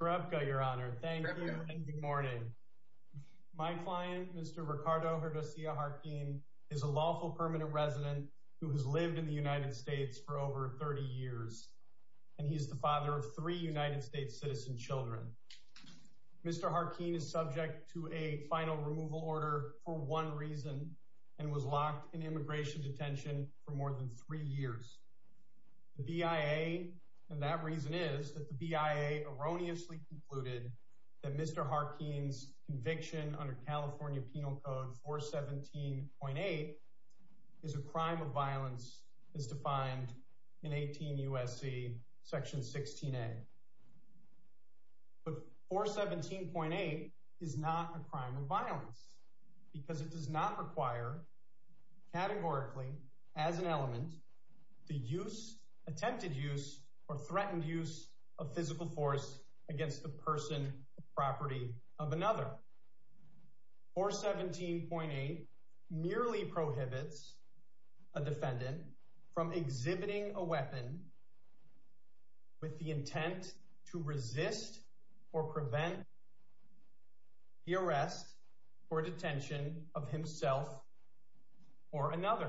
Grebka, your honor. Thank you and good morning. My client, Mr. Ricardo Herdocia Jarquin, is a lawful permanent resident who has lived in the United States for over 30 years, and he's the father of three United States citizen children. Mr. Jarquin is subject to a final removal order for one reason, and was locked in immigration detention for more than three years. The BIA, and that reason is that the BIA erroneously concluded that Mr. Jarquin's conviction under California Penal Code 417.8 is a crime of violence, as defined in 18 U.S.C. Section 16A. But 417.8 is not a crime of violence, because it does not require, categorically, as an element, the use, attempted use, or threatened use of physical force against the person or property of another. 417.8 merely prohibits a defendant from exhibiting a weapon with the intent to resist or prevent the arrest or detention of himself or another,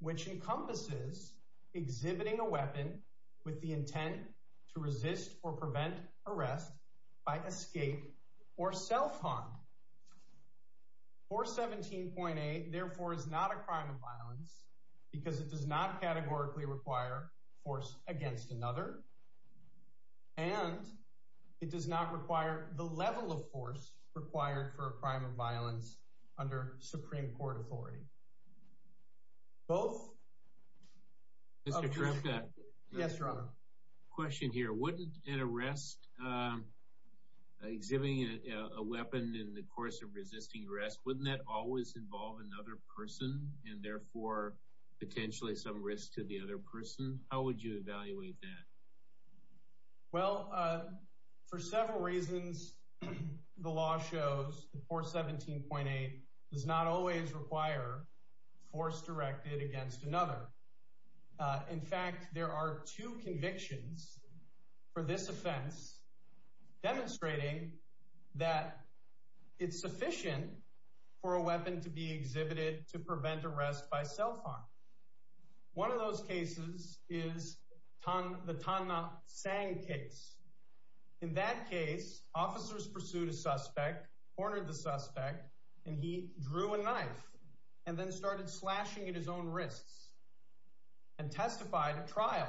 which encompasses exhibiting a weapon with the intent to resist or prevent arrest by escape or self-harm. 417.8, therefore, is not a crime of violence, because it does not, categorically, require force against another, and it does not require the level of force required for a crime of violence under Supreme Court authority. Both of these... But wouldn't an arrest, exhibiting a weapon in the course of resisting arrest, wouldn't that always involve another person, and therefore, potentially, some risk to the other person? How would you evaluate that? Well, for several reasons, the law shows that 417.8 does not always require force directed against another. In fact, there are two convictions for this offense demonstrating that it's sufficient for a weapon to be exhibited to prevent arrest by self-harm. One of those cases is the Tan Na Sang case. In that case, officers pursued a suspect, cornered the suspect, and he drew a knife and then started slashing at his own wrists and testified at trial.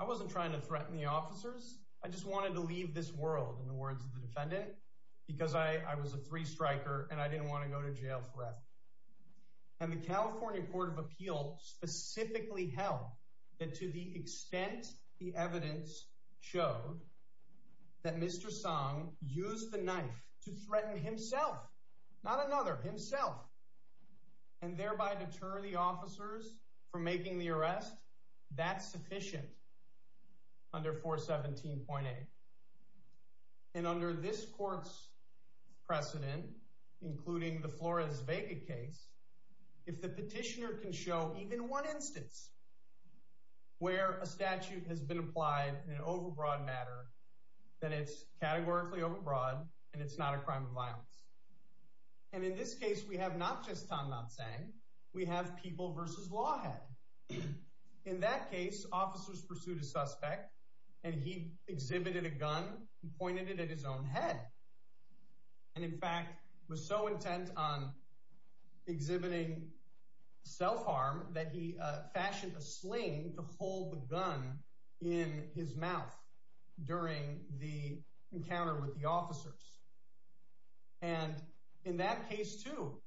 I wasn't trying to threaten the officers. I just wanted to leave this world, in the words of the defendant, because I was a three-striker and I didn't want to go to jail forever. And the California Court of Appeals specifically held that to the extent the evidence showed that Mr. Sang used the knife to threaten himself, not another, himself, and thereby deter the officers from making the arrest, that's sufficient under 417.8. And under this court's precedent, including the Flores-Vega case, if the petitioner can show even one instance where a statute has been applied in an overbroad matter, then it's categorically overbroad and it's not a crime of violence. And in this case, we have not just Tan Na Sang, we have People v. Lawhead. In that case, officers pursued a suspect and he exhibited a gun and pointed it at his own head. And in fact, was so intent on exhibiting self-harm that he fashioned a sling to hold the gun in his mouth during the encounter with the officers. And in that case, too,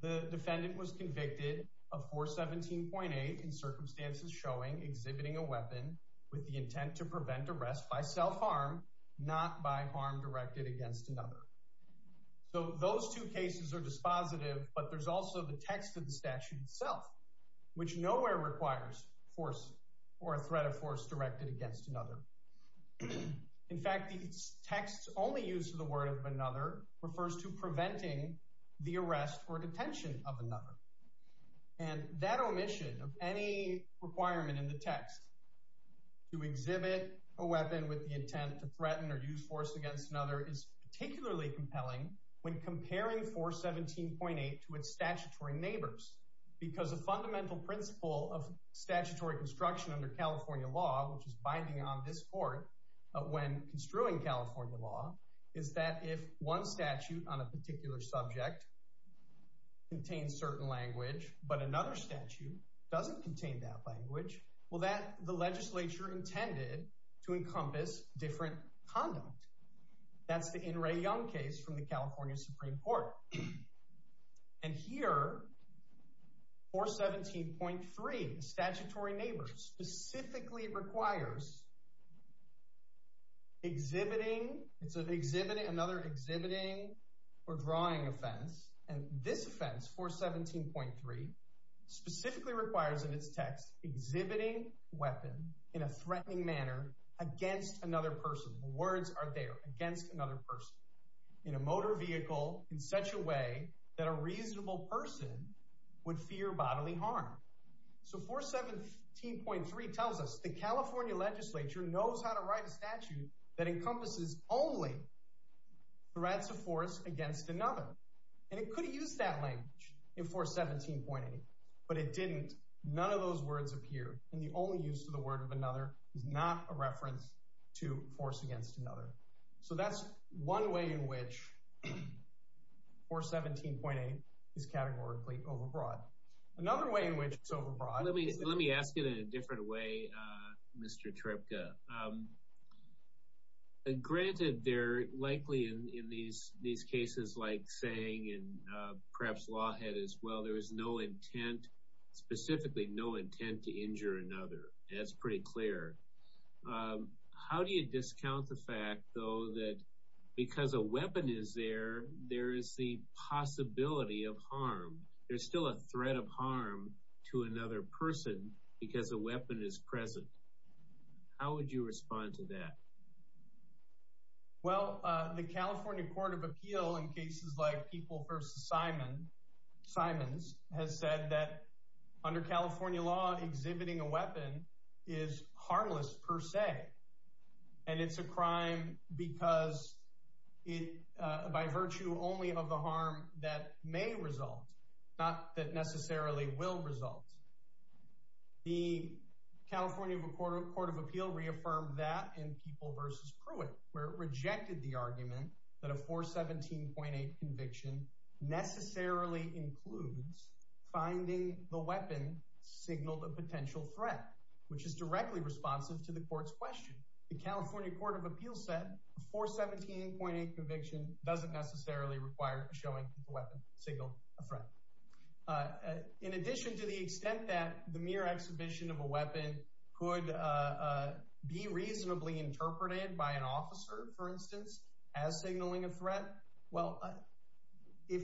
the defendant was convicted of 417.8 in circumstances showing exhibiting a weapon with the intent to prevent arrest by self-harm, not by harm directed against another. So those two cases are dispositive, but there's also the text of the statute itself, which nowhere requires force or a threat of force directed against another. In fact, the text only used for the word of another refers to preventing the arrest or detention of another. And that omission of any requirement in the text to exhibit a weapon with the intent to threaten or use force against another is particularly compelling when comparing 417.8 to its statutory neighbors. Because a fundamental principle of statutory construction under California law, which is binding on this court when construing California law, is that if one statute on a particular subject contains certain language, but another statute doesn't contain that language, well that the legislature intended to encompass different conduct. That's the In Re Young case from the California Supreme Court. And here, 417.3, the statutory neighbors, specifically requires exhibiting another exhibiting or drawing offense. And this offense, 417.3, specifically requires in its text exhibiting weapon in a threatening manner against another person. Words are there against another person in a motor vehicle in such a way that a reasonable person would fear bodily harm. So 417.3 tells us the California legislature knows how to write a statute that encompasses only threats of force against another. And it could use that language in 417.8, but it didn't. None of those words appeared. And the only use of the word of another is not a reference to force against another. So that's one way in which 417.8 is categorically overbroad. Another way in which it's overbroad is... Let me ask it in a different way, Mr. Tripka. Granted, they're likely in these cases like Sang and perhaps Lawhead as well, there is no intent, specifically no intent, to injure another. That's pretty clear. How do you discount the fact, though, that because a weapon is there, there is the possibility of harm? There's still a threat of harm to another person because a weapon is present. How would you respond to that? Well, the California Court of Appeal in cases like People v. Simons has said that under California law, exhibiting a weapon is harmless per se. And it's a crime because by virtue only of the harm that may result, not that necessarily will result. The California Court of Appeal reaffirmed that in People v. Pruitt, where it rejected the argument that a 417.8 conviction necessarily includes finding the weapon signaled a potential threat, which is directly responsive to the court's question. The California Court of Appeal said a 417.8 conviction doesn't necessarily require showing the weapon signaled a threat. In addition to the extent that the mere exhibition of a weapon could be reasonably interpreted by an officer, for instance, as signaling a threat. Well, if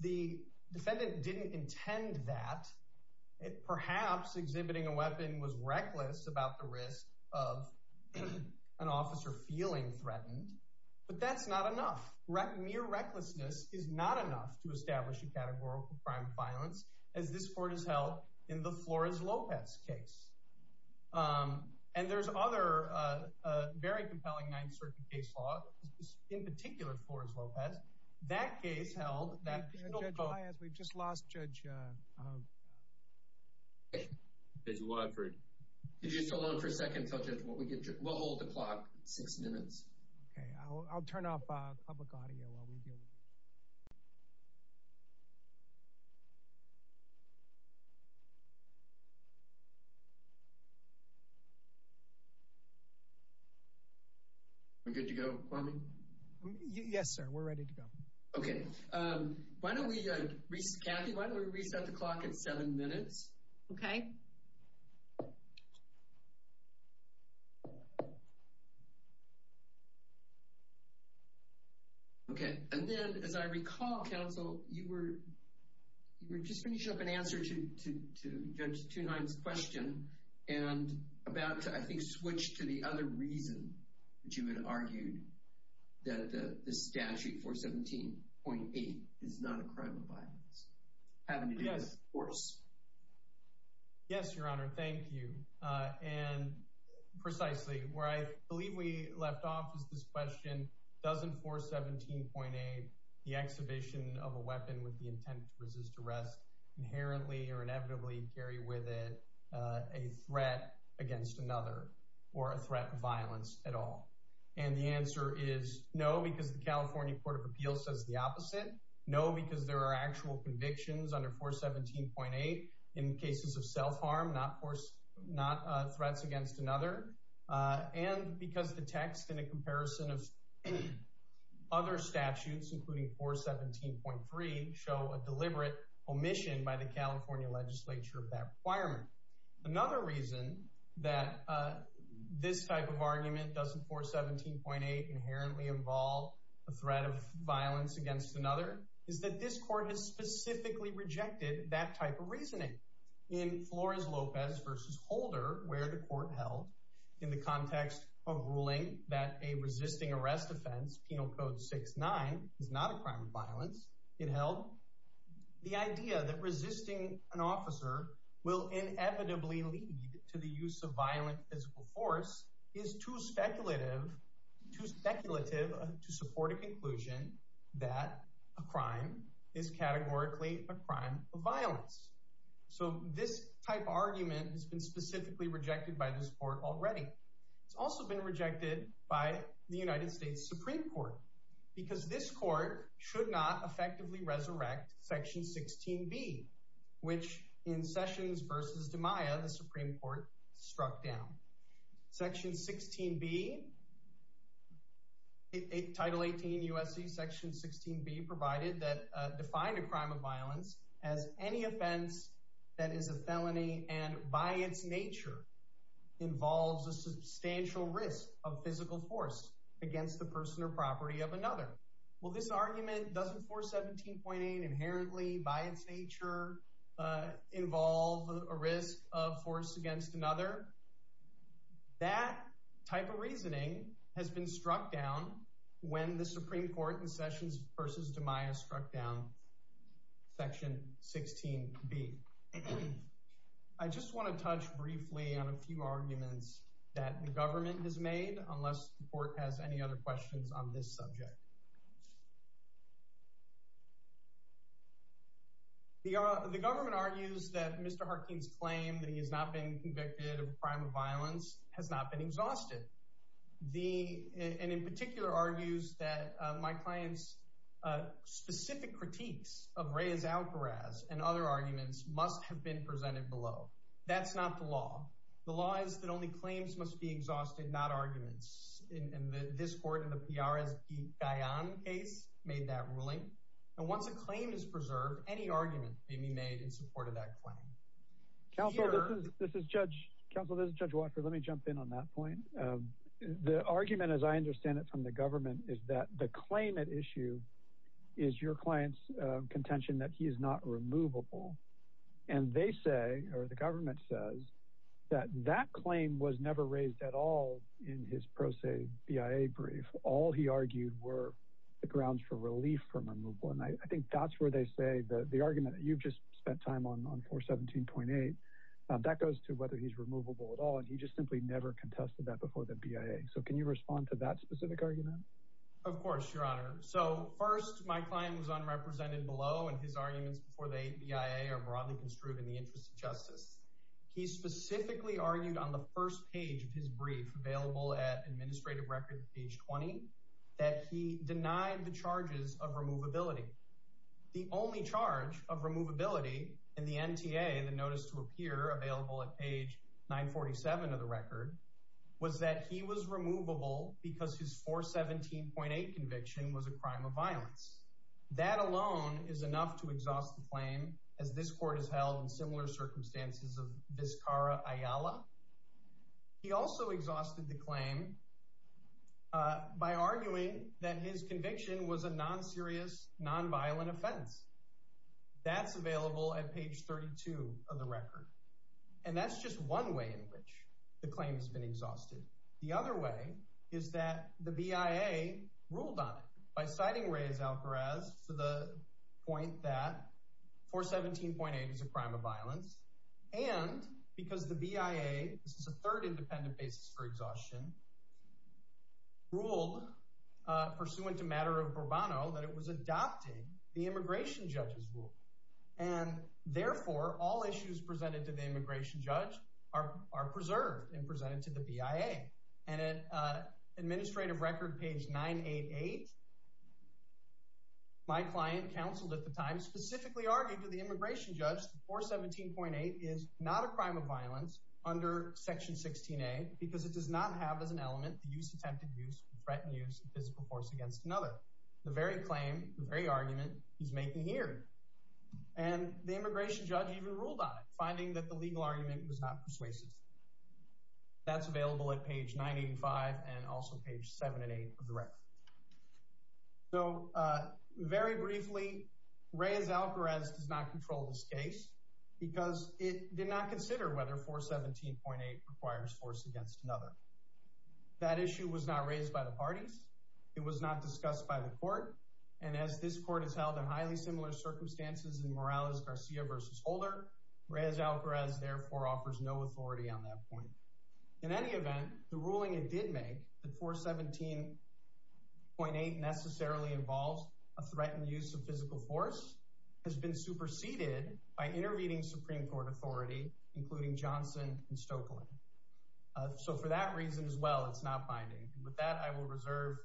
the defendant didn't intend that, perhaps exhibiting a weapon was reckless about the risk of an officer feeling threatened. But that's not enough. Mere recklessness is not enough to establish a categorical crime of violence, as this court has held in the Flores-Lopez case. And there's other very compelling Ninth Circuit case law, in particular Flores-Lopez. Judge Maez, we've just lost Judge Wofford. Could you just hold on for a second? We'll hold the clock for six minutes. Okay, I'll turn off public audio while we deal with this. Are we good to go? Yes, sir. We're ready to go. Okay. Kathy, why don't we reset the clock at seven minutes? Okay. Okay. Okay. And then, as I recall, counsel, you were just finishing up an answer to Judge Two-Nine's question and about to, I think, switch to the other reason that you had argued that the statute 417.8 is not a crime of violence. Yes. Yes, Your Honor. Thank you. And precisely where I believe we left off was this question, doesn't 417.8, the exhibition of a weapon with the intent to resist arrest, inherently or inevitably carry with it a threat against another or a threat of violence at all? And the answer is no, because the California Court of Appeals says the opposite. No, because there are actual convictions under 417.8 in cases of self-harm, not threats against another. And because the text in a comparison of other statutes, including 417.3, show a deliberate omission by the California legislature of that requirement. Another reason that this type of argument doesn't 417.8 inherently involve a threat of violence against another is that this court has specifically rejected that type of reasoning. In Flores-Lopez v. Holder, where the court held in the context of ruling that a resisting arrest offense, Penal Code 6-9, is not a crime of violence, it held the idea that resisting an officer will inevitably lead to the use of violent physical force is too speculative to support a conclusion that a crime is categorically a crime of violence. So this type of argument has been specifically rejected by this court already. It's also been rejected by the United States Supreme Court, because this court should not effectively resurrect Section 16b, which in Sessions v. DiMaia, the Supreme Court struck down. Section 16b, Title 18 U.S.C. Section 16b provided that define a crime of violence as any offense that is a felony and by its nature involves a substantial risk of physical force against the person or property of another. Well, this argument doesn't 417.8 inherently by its nature involve a risk of force against another. That type of reasoning has been struck down when the Supreme Court in Sessions v. DiMaia struck down Section 16b. I just want to touch briefly on a few arguments that the government has made, unless the court has any other questions on this subject. The government argues that Mr. Harkin's claim that he has not been convicted of a crime of violence has not been exhausted. And in particular argues that my client's specific critiques of Reyes-Algaraz and other arguments must have been presented below. That's not the law. The law is that only claims must be exhausted, not arguments. And this court in the P.R.S. Guyon case made that ruling. And once a claim is preserved, any argument may be made in support of that claim. Counsel, this is Judge Watford. Let me jump in on that point. The argument, as I understand it from the government, is that the claim at issue is your client's contention that he is not removable. And they say, or the government says, that that claim was never raised at all in his pro se BIA brief. All he argued were the grounds for relief from removal. And I think that's where they say the argument that you've just spent time on, on 417.8, that goes to whether he's removable at all. And he just simply never contested that before the BIA. So can you respond to that specific argument? Of course, Your Honor. So first, my client was unrepresented below, and his arguments before the BIA are broadly construed in the interest of justice. He specifically argued on the first page of his brief, available at Administrative Record, page 20, that he denied the charges of removability. The only charge of removability in the NTA, the notice to appear available at page 947 of the record, was that he was removable because his 417.8 conviction was a crime of violence. That alone is enough to exhaust the claim, as this court has held in similar circumstances of Viscara Ayala. He also exhausted the claim by arguing that his conviction was a non-serious, non-violent offense. That's available at page 32 of the record. And that's just one way in which the claim has been exhausted. The other way is that the BIA ruled on it by citing Reyes-Algaraz to the point that 417.8 is a crime of violence, and because the BIA, this is the third independent basis for exhaustion, ruled, pursuant to matter of Bourbano, that it was adopting the immigration judge's rule. And therefore, all issues presented to the immigration judge are preserved and presented to the BIA. And at administrative record, page 988, my client, counseled at the time, specifically argued to the immigration judge that 417.8 is not a crime of violence under section 16A because it does not have as an element the use of attempted use or threatened use of physical force against another. The very claim, the very argument, he's making here. And the immigration judge even ruled on it, finding that the legal argument was not persuasive. That's available at page 985 and also page 7 and 8 of the record. So, very briefly, Reyes-Algaraz does not control this case because it did not consider whether 417.8 requires force against another. That issue was not raised by the parties. It was not discussed by the court. And as this court has held in highly similar circumstances in Morales-Garcia v. Holder, Reyes-Algaraz, therefore, offers no authority on that point. In any event, the ruling it did make, that 417.8 necessarily involves a threatened use of physical force, has been superseded by intervening Supreme Court authority, including Johnson and Stokeland. So, for that reason as well, it's not binding. With that, I will reserve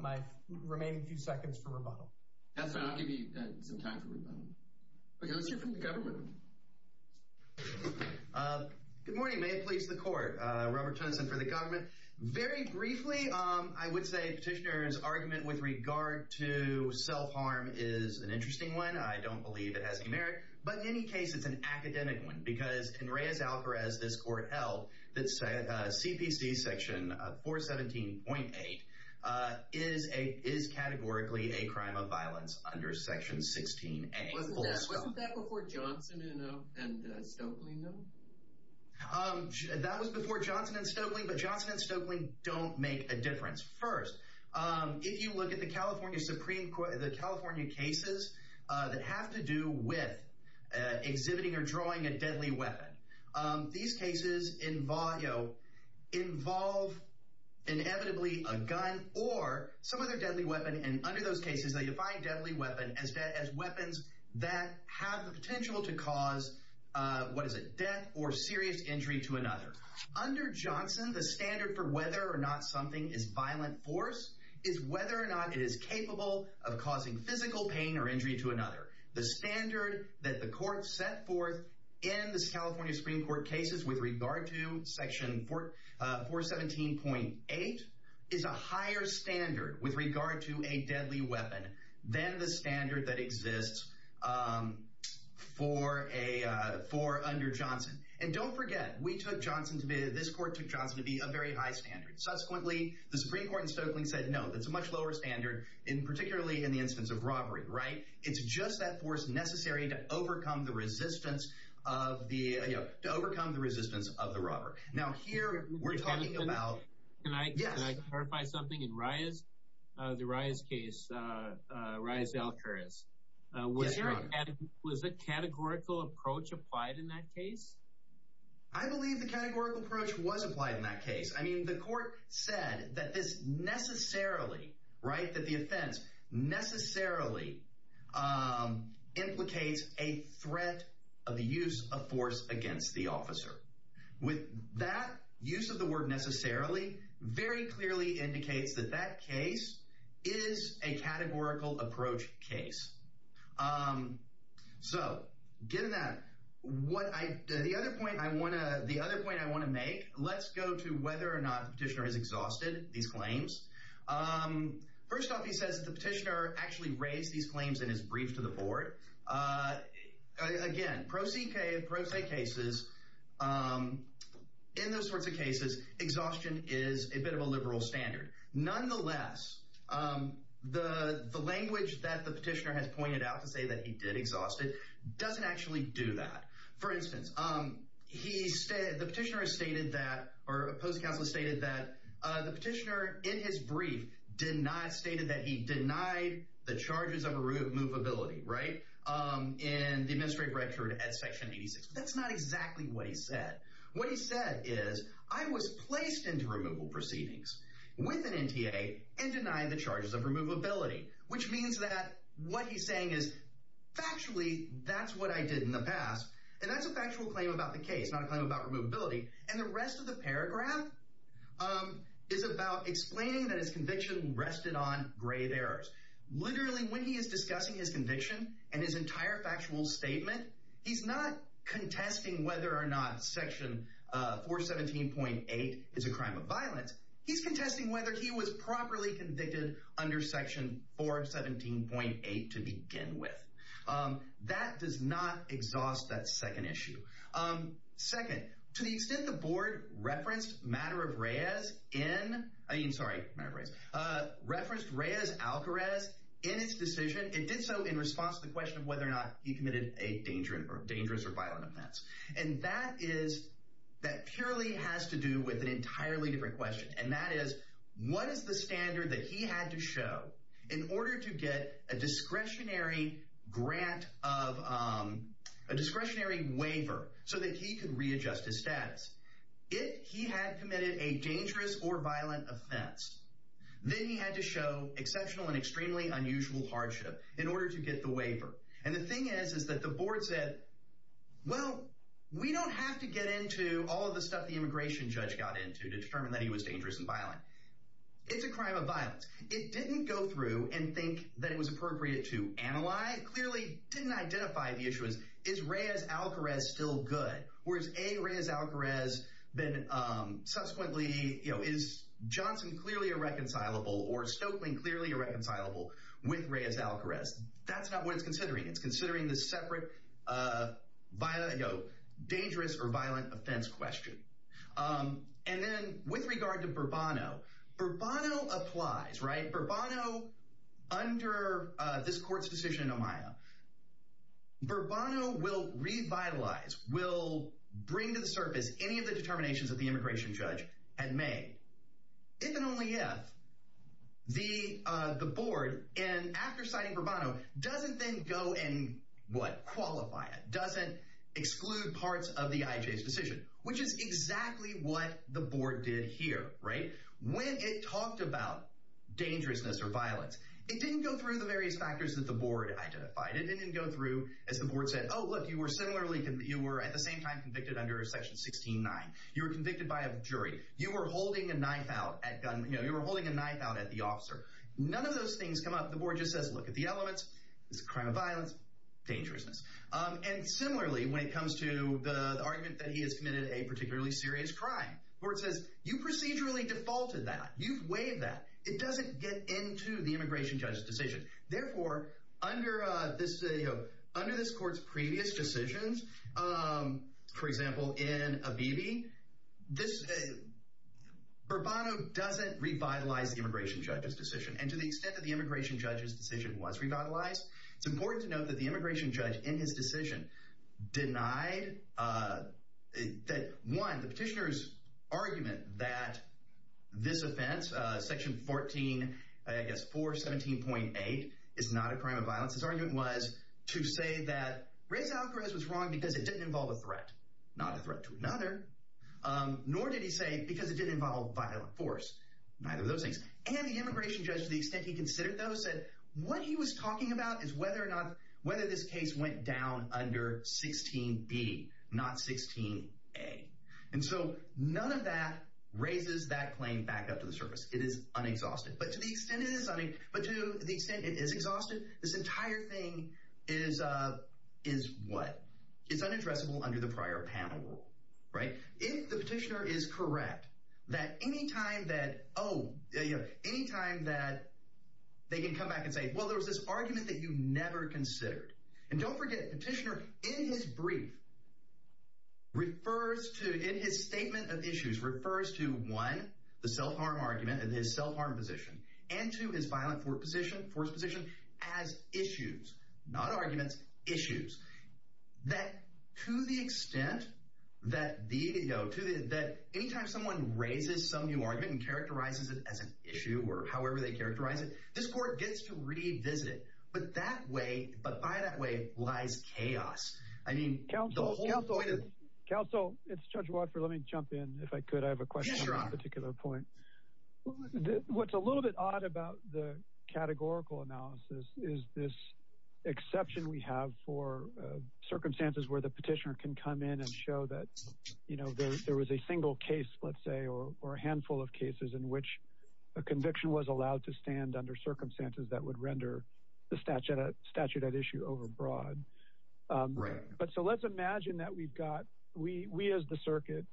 my remaining few seconds for rebuttal. I'll give you some time for rebuttal. Let's hear from the government. Good morning. May it please the court. Robert Tennyson for the government. Very briefly, I would say Petitioner's argument with regard to self-harm is an interesting one. I don't believe it has any merit. But in any case, it's an academic one because in Reyes-Algaraz, this court held that CPC section 417.8 is categorically a crime of violence under section 16A. Wasn't that before Johnson and Stokeland, though? That was before Johnson and Stokeland, but Johnson and Stokeland don't make a difference. First, if you look at the California cases that have to do with exhibiting or drawing a deadly weapon, these cases involve inevitably a gun or some other deadly weapon. And under those cases, they define deadly weapon as weapons that have the potential to cause, what is it, death or serious injury to another. Under Johnson, the standard for whether or not something is violent force is whether or not it is capable of causing physical pain or injury to another. The standard that the court set forth in the California Supreme Court cases with regard to section 417.8 is a higher standard with regard to a deadly weapon than the standard that exists for under Johnson. And don't forget, this court took Johnson to be a very high standard. Subsequently, the Supreme Court in Stokeland said, no, that's a much lower standard, particularly in the instance of robbery, right? It's just that force necessary to overcome the resistance of the robber. Now, here we're talking about, can I clarify something? In Ria's, the Ria's case, Ria's Alcarez, was a categorical approach applied in that case? I believe the categorical approach was applied in that case. I mean, the court said that this necessarily, right, that the offense necessarily implicates a threat of the use of force against the officer. With that use of the word necessarily, very clearly indicates that that case is a categorical approach case. So given that, the other point I want to make, let's go to whether or not the petitioner has exhausted these claims. First off, he says the petitioner actually raised these claims in his brief to the board. Again, pro se cases, in those sorts of cases, exhaustion is a bit of a liberal standard. Nonetheless, the language that the petitioner has pointed out to say that he did exhaust it doesn't actually do that. For instance, the petitioner has stated that, or a post-counsel has stated that, the petitioner in his brief did not state that he denied the charges of removability, right, in the administrative record at section 86. That's not exactly what he said. What he said is, I was placed into removal proceedings with an NTA and denied the charges of removability. Which means that what he's saying is, factually, that's what I did in the past. And that's a factual claim about the case, not a claim about removability. And the rest of the paragraph is about explaining that his conviction rested on grave errors. Literally, when he is discussing his conviction and his entire factual statement, he's not contesting whether or not section 417.8 is a crime of violence. He's contesting whether he was properly convicted under section 417.8 to begin with. That does not exhaust that second issue. Second, to the extent the board referenced Reyes-Alcarez in its decision, it did so in response to the question of whether or not he committed a dangerous or violent offense. And that purely has to do with an entirely different question. And that is, what is the standard that he had to show in order to get a discretionary waiver so that he could readjust his status? If he had committed a dangerous or violent offense, then he had to show exceptional and extremely unusual hardship in order to get the waiver. And the thing is, is that the board said, well, we don't have to get into all of the stuff the immigration judge got into to determine that he was dangerous and violent. It's a crime of violence. It didn't go through and think that it was appropriate to analyze. It clearly didn't identify the issues. Is Reyes-Alcarez still good? Or is A, Reyes-Alcarez then subsequently, you know, is Johnson clearly irreconcilable or Stokelyn clearly irreconcilable with Reyes-Alcarez? That's not what it's considering. It's considering the separate, you know, dangerous or violent offense question. And then with regard to Bourbono, Bourbono applies, right? Bourbono, under this court's decision in Ohio, Bourbono will revitalize, will bring to the surface any of the determinations that the immigration judge had made. If and only if the board, after citing Bourbono, doesn't then go and, what, qualify it, doesn't exclude parts of the IJ's decision, which is exactly what the board did here, right? When it talked about dangerousness or violence, it didn't go through the various factors that the board identified. It didn't go through, as the board said, oh, look, you were similarly, you were at the same time convicted under section 16-9. You were convicted by a jury. You were holding a knife out at gun, you know, you were holding a knife out at the officer. None of those things come up. The board just says, look at the elements. It's a crime of violence, dangerousness. And similarly, when it comes to the argument that he has committed a particularly serious crime, the board says, you procedurally defaulted that. You've waived that. It doesn't get into the immigration judge's decision. Therefore, under this court's previous decisions, for example, in Abebe, Bourbono doesn't revitalize the immigration judge's decision. And to the extent that the immigration judge's decision was revitalized, it's important to note that the immigration judge in his decision denied that, one, the petitioner's argument that this offense, section 14, I guess, 417.8, is not a crime of violence. His argument was to say that Reza Alkarez was wrong because it didn't involve a threat, not a threat to another, nor did he say because it didn't involve violent force. Neither of those things. And the immigration judge, to the extent he considered those, said what he was talking about is whether or not, whether this case went down under 16-B, not 16-A. And so none of that raises that claim back up to the surface. It is unexhausted. But to the extent it is, I mean, but to the extent it is exhausted, this entire thing is what? It's unaddressable under the prior panel rule, right? If the petitioner is correct that any time that, oh, any time that they can come back and say, well, there was this argument that you never considered. And don't forget, petitioner, in his brief, refers to, in his statement of issues, refers to, one, the self-harm argument and his self-harm position, and to his violent force position as issues, not arguments, issues. That to the extent that any time someone raises some new argument and characterizes it as an issue or however they characterize it, this court gets to revisit it. But that way, but by that way, lies chaos. I mean, the whole point of- Counsel, it's Judge Watford. Let me jump in, if I could. I have a question on a particular point. What's a little bit odd about the categorical analysis is this exception we have for circumstances where the petitioner can come in and show that, you know, there was a single case, let's say, or a handful of cases in which a conviction was allowed to stand under circumstances that would render the statute at issue overbroad. Right. But so let's imagine that we've got, we as the circuit,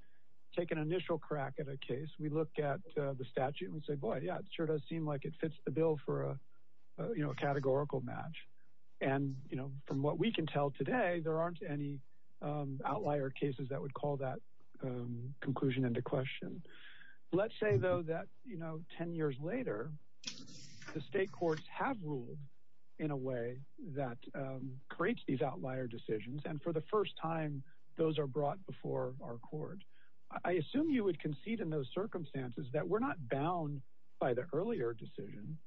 take an initial crack at a case. We look at the statute and say, boy, yeah, it sure does seem like it fits the bill for a, you know, a categorical match. And, you know, from what we can tell today, there aren't any outlier cases that would call that conclusion into question. Let's say, though, that, you know, 10 years later, the state courts have ruled in a way that creates these outlier decisions. And for the first time, those are brought before our court. I assume you would concede in those circumstances that we're not bound by the earlier decision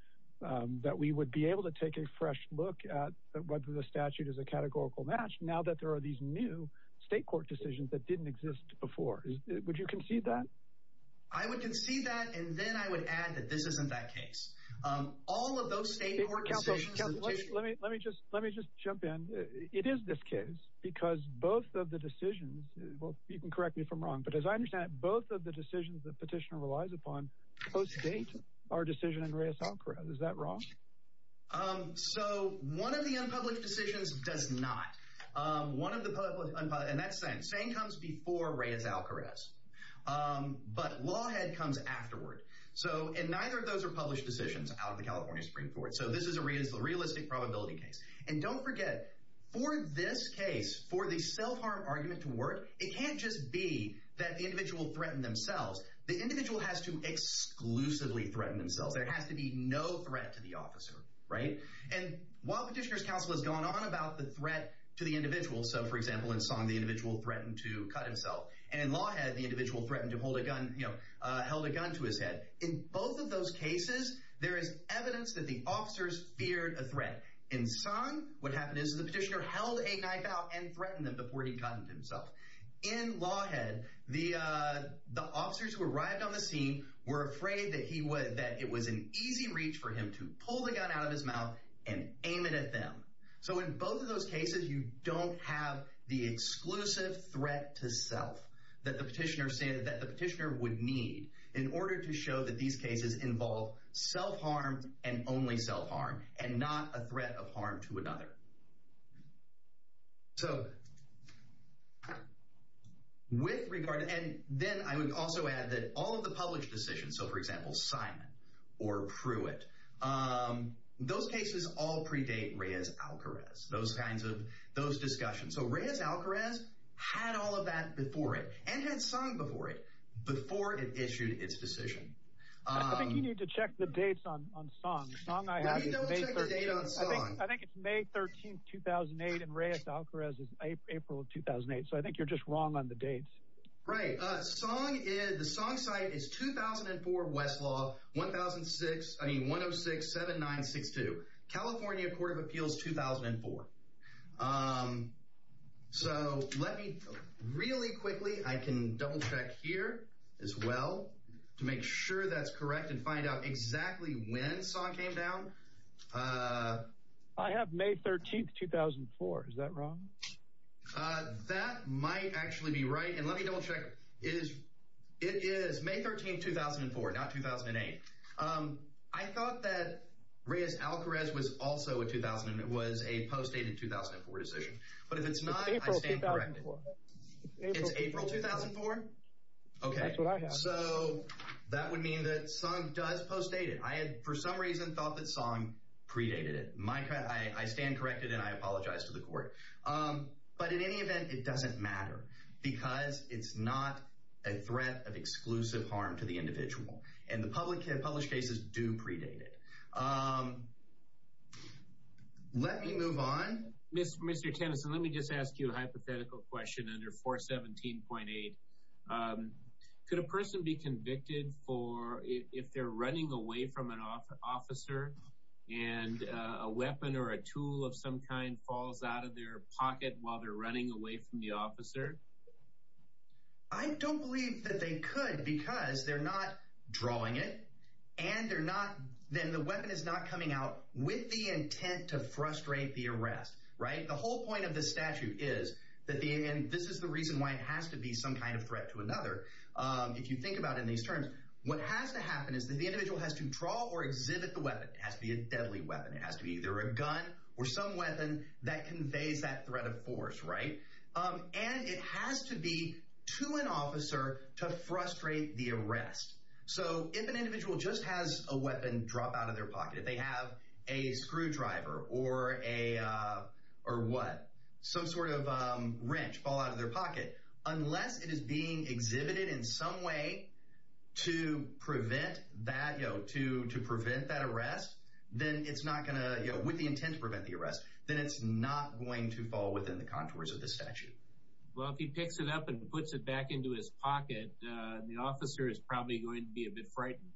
that we would be able to take a fresh look at whether the statute is a categorical match. Now that there are these new state court decisions that didn't exist before. Would you concede that? I would concede that. And then I would add that this isn't that case. All of those state court decisions. Let me let me just let me just jump in. It is this case because both of the decisions. Well, you can correct me if I'm wrong, but as I understand it, both of the decisions that petitioner relies upon post-date our decision in Reyes-Alcarez. Is that wrong? So one of the unpublished decisions does not. One of the and that's saying comes before Reyes-Alcarez. But Lawhead comes afterward. So and neither of those are published decisions out of the California Supreme Court. So this is a real realistic probability case. And don't forget for this case for the self-harm argument to work. It can't just be that the individual threatened themselves. The individual has to exclusively threaten themselves. There has to be no threat to the officer. Right. And while petitioner's counsel has gone on about the threat to the individual. So, for example, in song, the individual threatened to cut himself. And Lawhead, the individual threatened to hold a gun, held a gun to his head. In both of those cases, there is evidence that the officers feared a threat in song. What happened is the petitioner held a knife out and threatened them before he cut himself in Lawhead. The the officers who arrived on the scene were afraid that he was that it was an easy reach for him to pull the gun out of his mouth and aim it at them. So in both of those cases, you don't have the exclusive threat to self that the petitioner said that the petitioner would need in order to show that these cases involve self-harm and only self-harm and not a threat of harm to another. So. With regard, and then I would also add that all of the published decisions, so, for example, Simon or Pruitt. Those cases all predate Reyes-Alcarez. Those kinds of those discussions. So Reyes-Alcarez had all of that before it and had sung before it before it issued its decision. I think you need to check the dates on on song song. I have a date. I think it's May 13th, 2008. And Reyes-Alcarez is April 2008. So I think you're just wrong on the dates. Right. Song is the song site is 2004 Westlaw one thousand six. I mean, one of six, seven, nine, six to California Court of Appeals 2004. So let me really quickly. I can double check here as well to make sure that's correct and find out exactly when song came down. I have May 13th, 2004. Is that wrong? That might actually be right. And let me double check. Is it is May 13th, 2004, not 2008. I thought that Reyes-Alcarez was also a 2000. It was a postdated 2004 decision. But if it's not, I stand corrected. It's April 2004. OK, so that would mean that song does postdate it. I had for some reason thought that song predated it. My I stand corrected and I apologize to the court. But in any event, it doesn't matter because it's not a threat of exclusive harm to the individual. And the public have published cases do predate it. Let me move on. Mr. Tennyson, let me just ask you a hypothetical question. Under 417.8, could a person be convicted for if they're running away from an officer and a weapon or a tool of some kind falls out of their pocket while they're running away from the officer? I don't believe that they could because they're not drawing it and they're not. Then the weapon is not coming out with the intent to frustrate the arrest. Right. The whole point of the statute is that the end. This is the reason why it has to be some kind of threat to another. If you think about in these terms, what has to happen is that the individual has to draw or exhibit the weapon. It has to be a deadly weapon. It has to be either a gun or some weapon that conveys that threat of force. Right. And it has to be to an officer to frustrate the arrest. So if an individual just has a weapon drop out of their pocket, if they have a screwdriver or a or what? Some sort of wrench fall out of their pocket. Unless it is being exhibited in some way to prevent that, you know, to to prevent that arrest, then it's not going to. You know, with the intent to prevent the arrest, then it's not going to fall within the contours of the statute. Well, if he picks it up and puts it back into his pocket, the officer is probably going to be a bit frightened.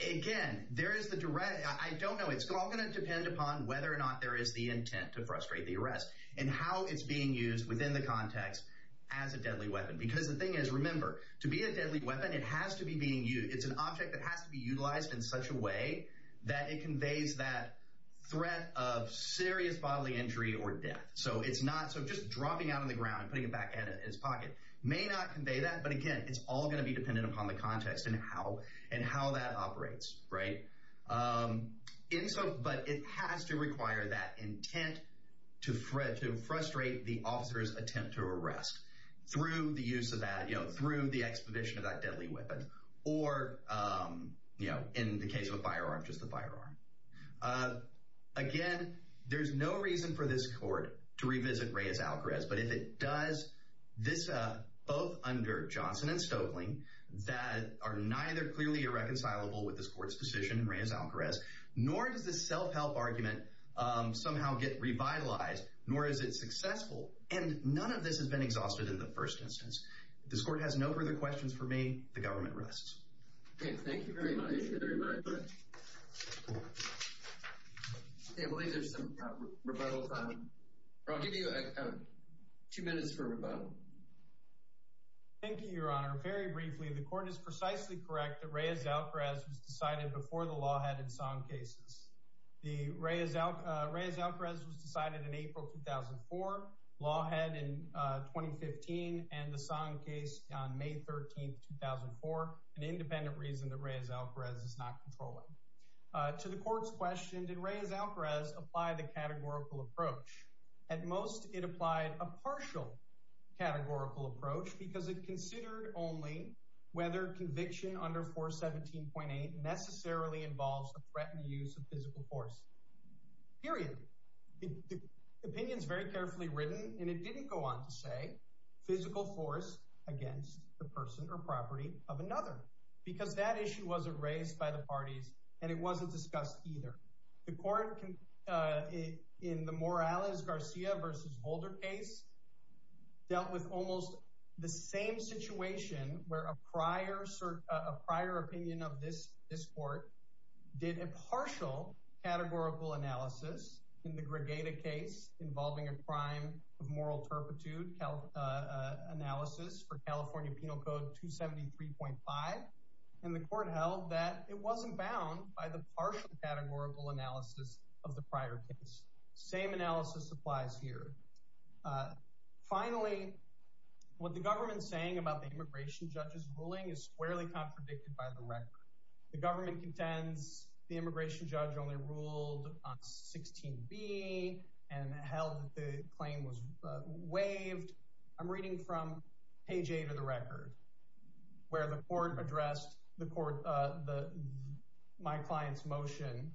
Again, there is the direct. I don't know. It's all going to depend upon whether or not there is the intent to frustrate the arrest and how it's being used within the context as a deadly weapon. Because the thing is, remember, to be a deadly weapon, it has to be being used. It's an object that has to be utilized in such a way that it conveys that threat of serious bodily injury or death. So it's not so just dropping out on the ground and putting it back in his pocket may not convey that. But again, it's all going to be dependent upon the context and how and how that operates. Right. And so but it has to require that intent to Fred to frustrate the officer's attempt to arrest through the use of that, you know, through the exposition of that deadly weapon or, you know, in the case of a firearm, just the firearm. Again, there's no reason for this court to revisit Reyes-Alcarez. But if it does this both under Johnson and Stoeckling that are neither clearly irreconcilable with this court's decision in Reyes-Alcarez, nor does this self-help argument somehow get revitalized, nor is it successful. And none of this has been exhausted in the first instance. This court has no further questions for me. The government rests. Thank you very much. I believe there's some rebuttal time. I'll give you two minutes for rebuttal. Thank you, Your Honor. Very briefly, the court is precisely correct that Reyes-Alcarez was decided before the law had in some cases. The Reyes-Alcarez was decided in April 2004. Law had in 2015 and the Song case on May 13th, 2004, an independent reason that Reyes-Alcarez is not controlling. To the court's question, did Reyes-Alcarez apply the categorical approach? At most, it applied a partial categorical approach because it considered only whether conviction under 417.8 necessarily involves a threatened use of physical force, period. The opinion is very carefully written and it didn't go on to say physical force against the person or property of another because that issue wasn't raised by the parties and it wasn't discussed either. The court, in the Morales-Garcia v. Holder case, dealt with almost the same situation where a prior opinion of this court did a partial categorical analysis in the Gregata case involving a crime of moral turpitude analysis for California Penal Code 273.5. And the court held that it wasn't bound by the partial categorical analysis of the prior case. Same analysis applies here. Finally, what the government is saying about the immigration judge's ruling is squarely contradicted by the record. The government contends the immigration judge only ruled on 16b and held that the claim was waived. I'm reading from page A to the record where the court addressed my client's motion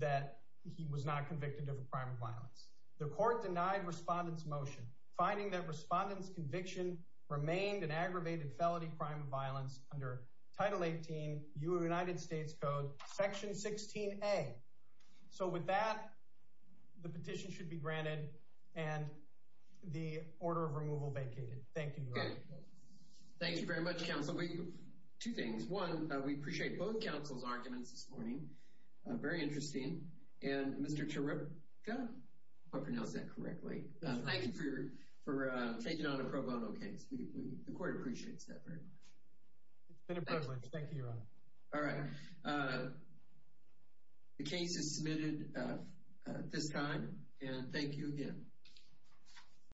that he was not convicted of a crime of violence. The court denied respondent's motion, finding that respondent's conviction remained an aggravated felony crime of violence under Title 18 U.S. Code Section 16a. So with that, the petition should be granted and the order of removal vacated. Thank you. Thank you very much, counsel. Two things. One, we appreciate both counsel's arguments this morning. Very interesting. And Mr. Chirutka, if I pronounced that correctly, thank you for taking on a pro bono case. The court appreciates that very much. It's been a privilege. Thank you, Your Honor. All right. The case is submitted at this time, and thank you again.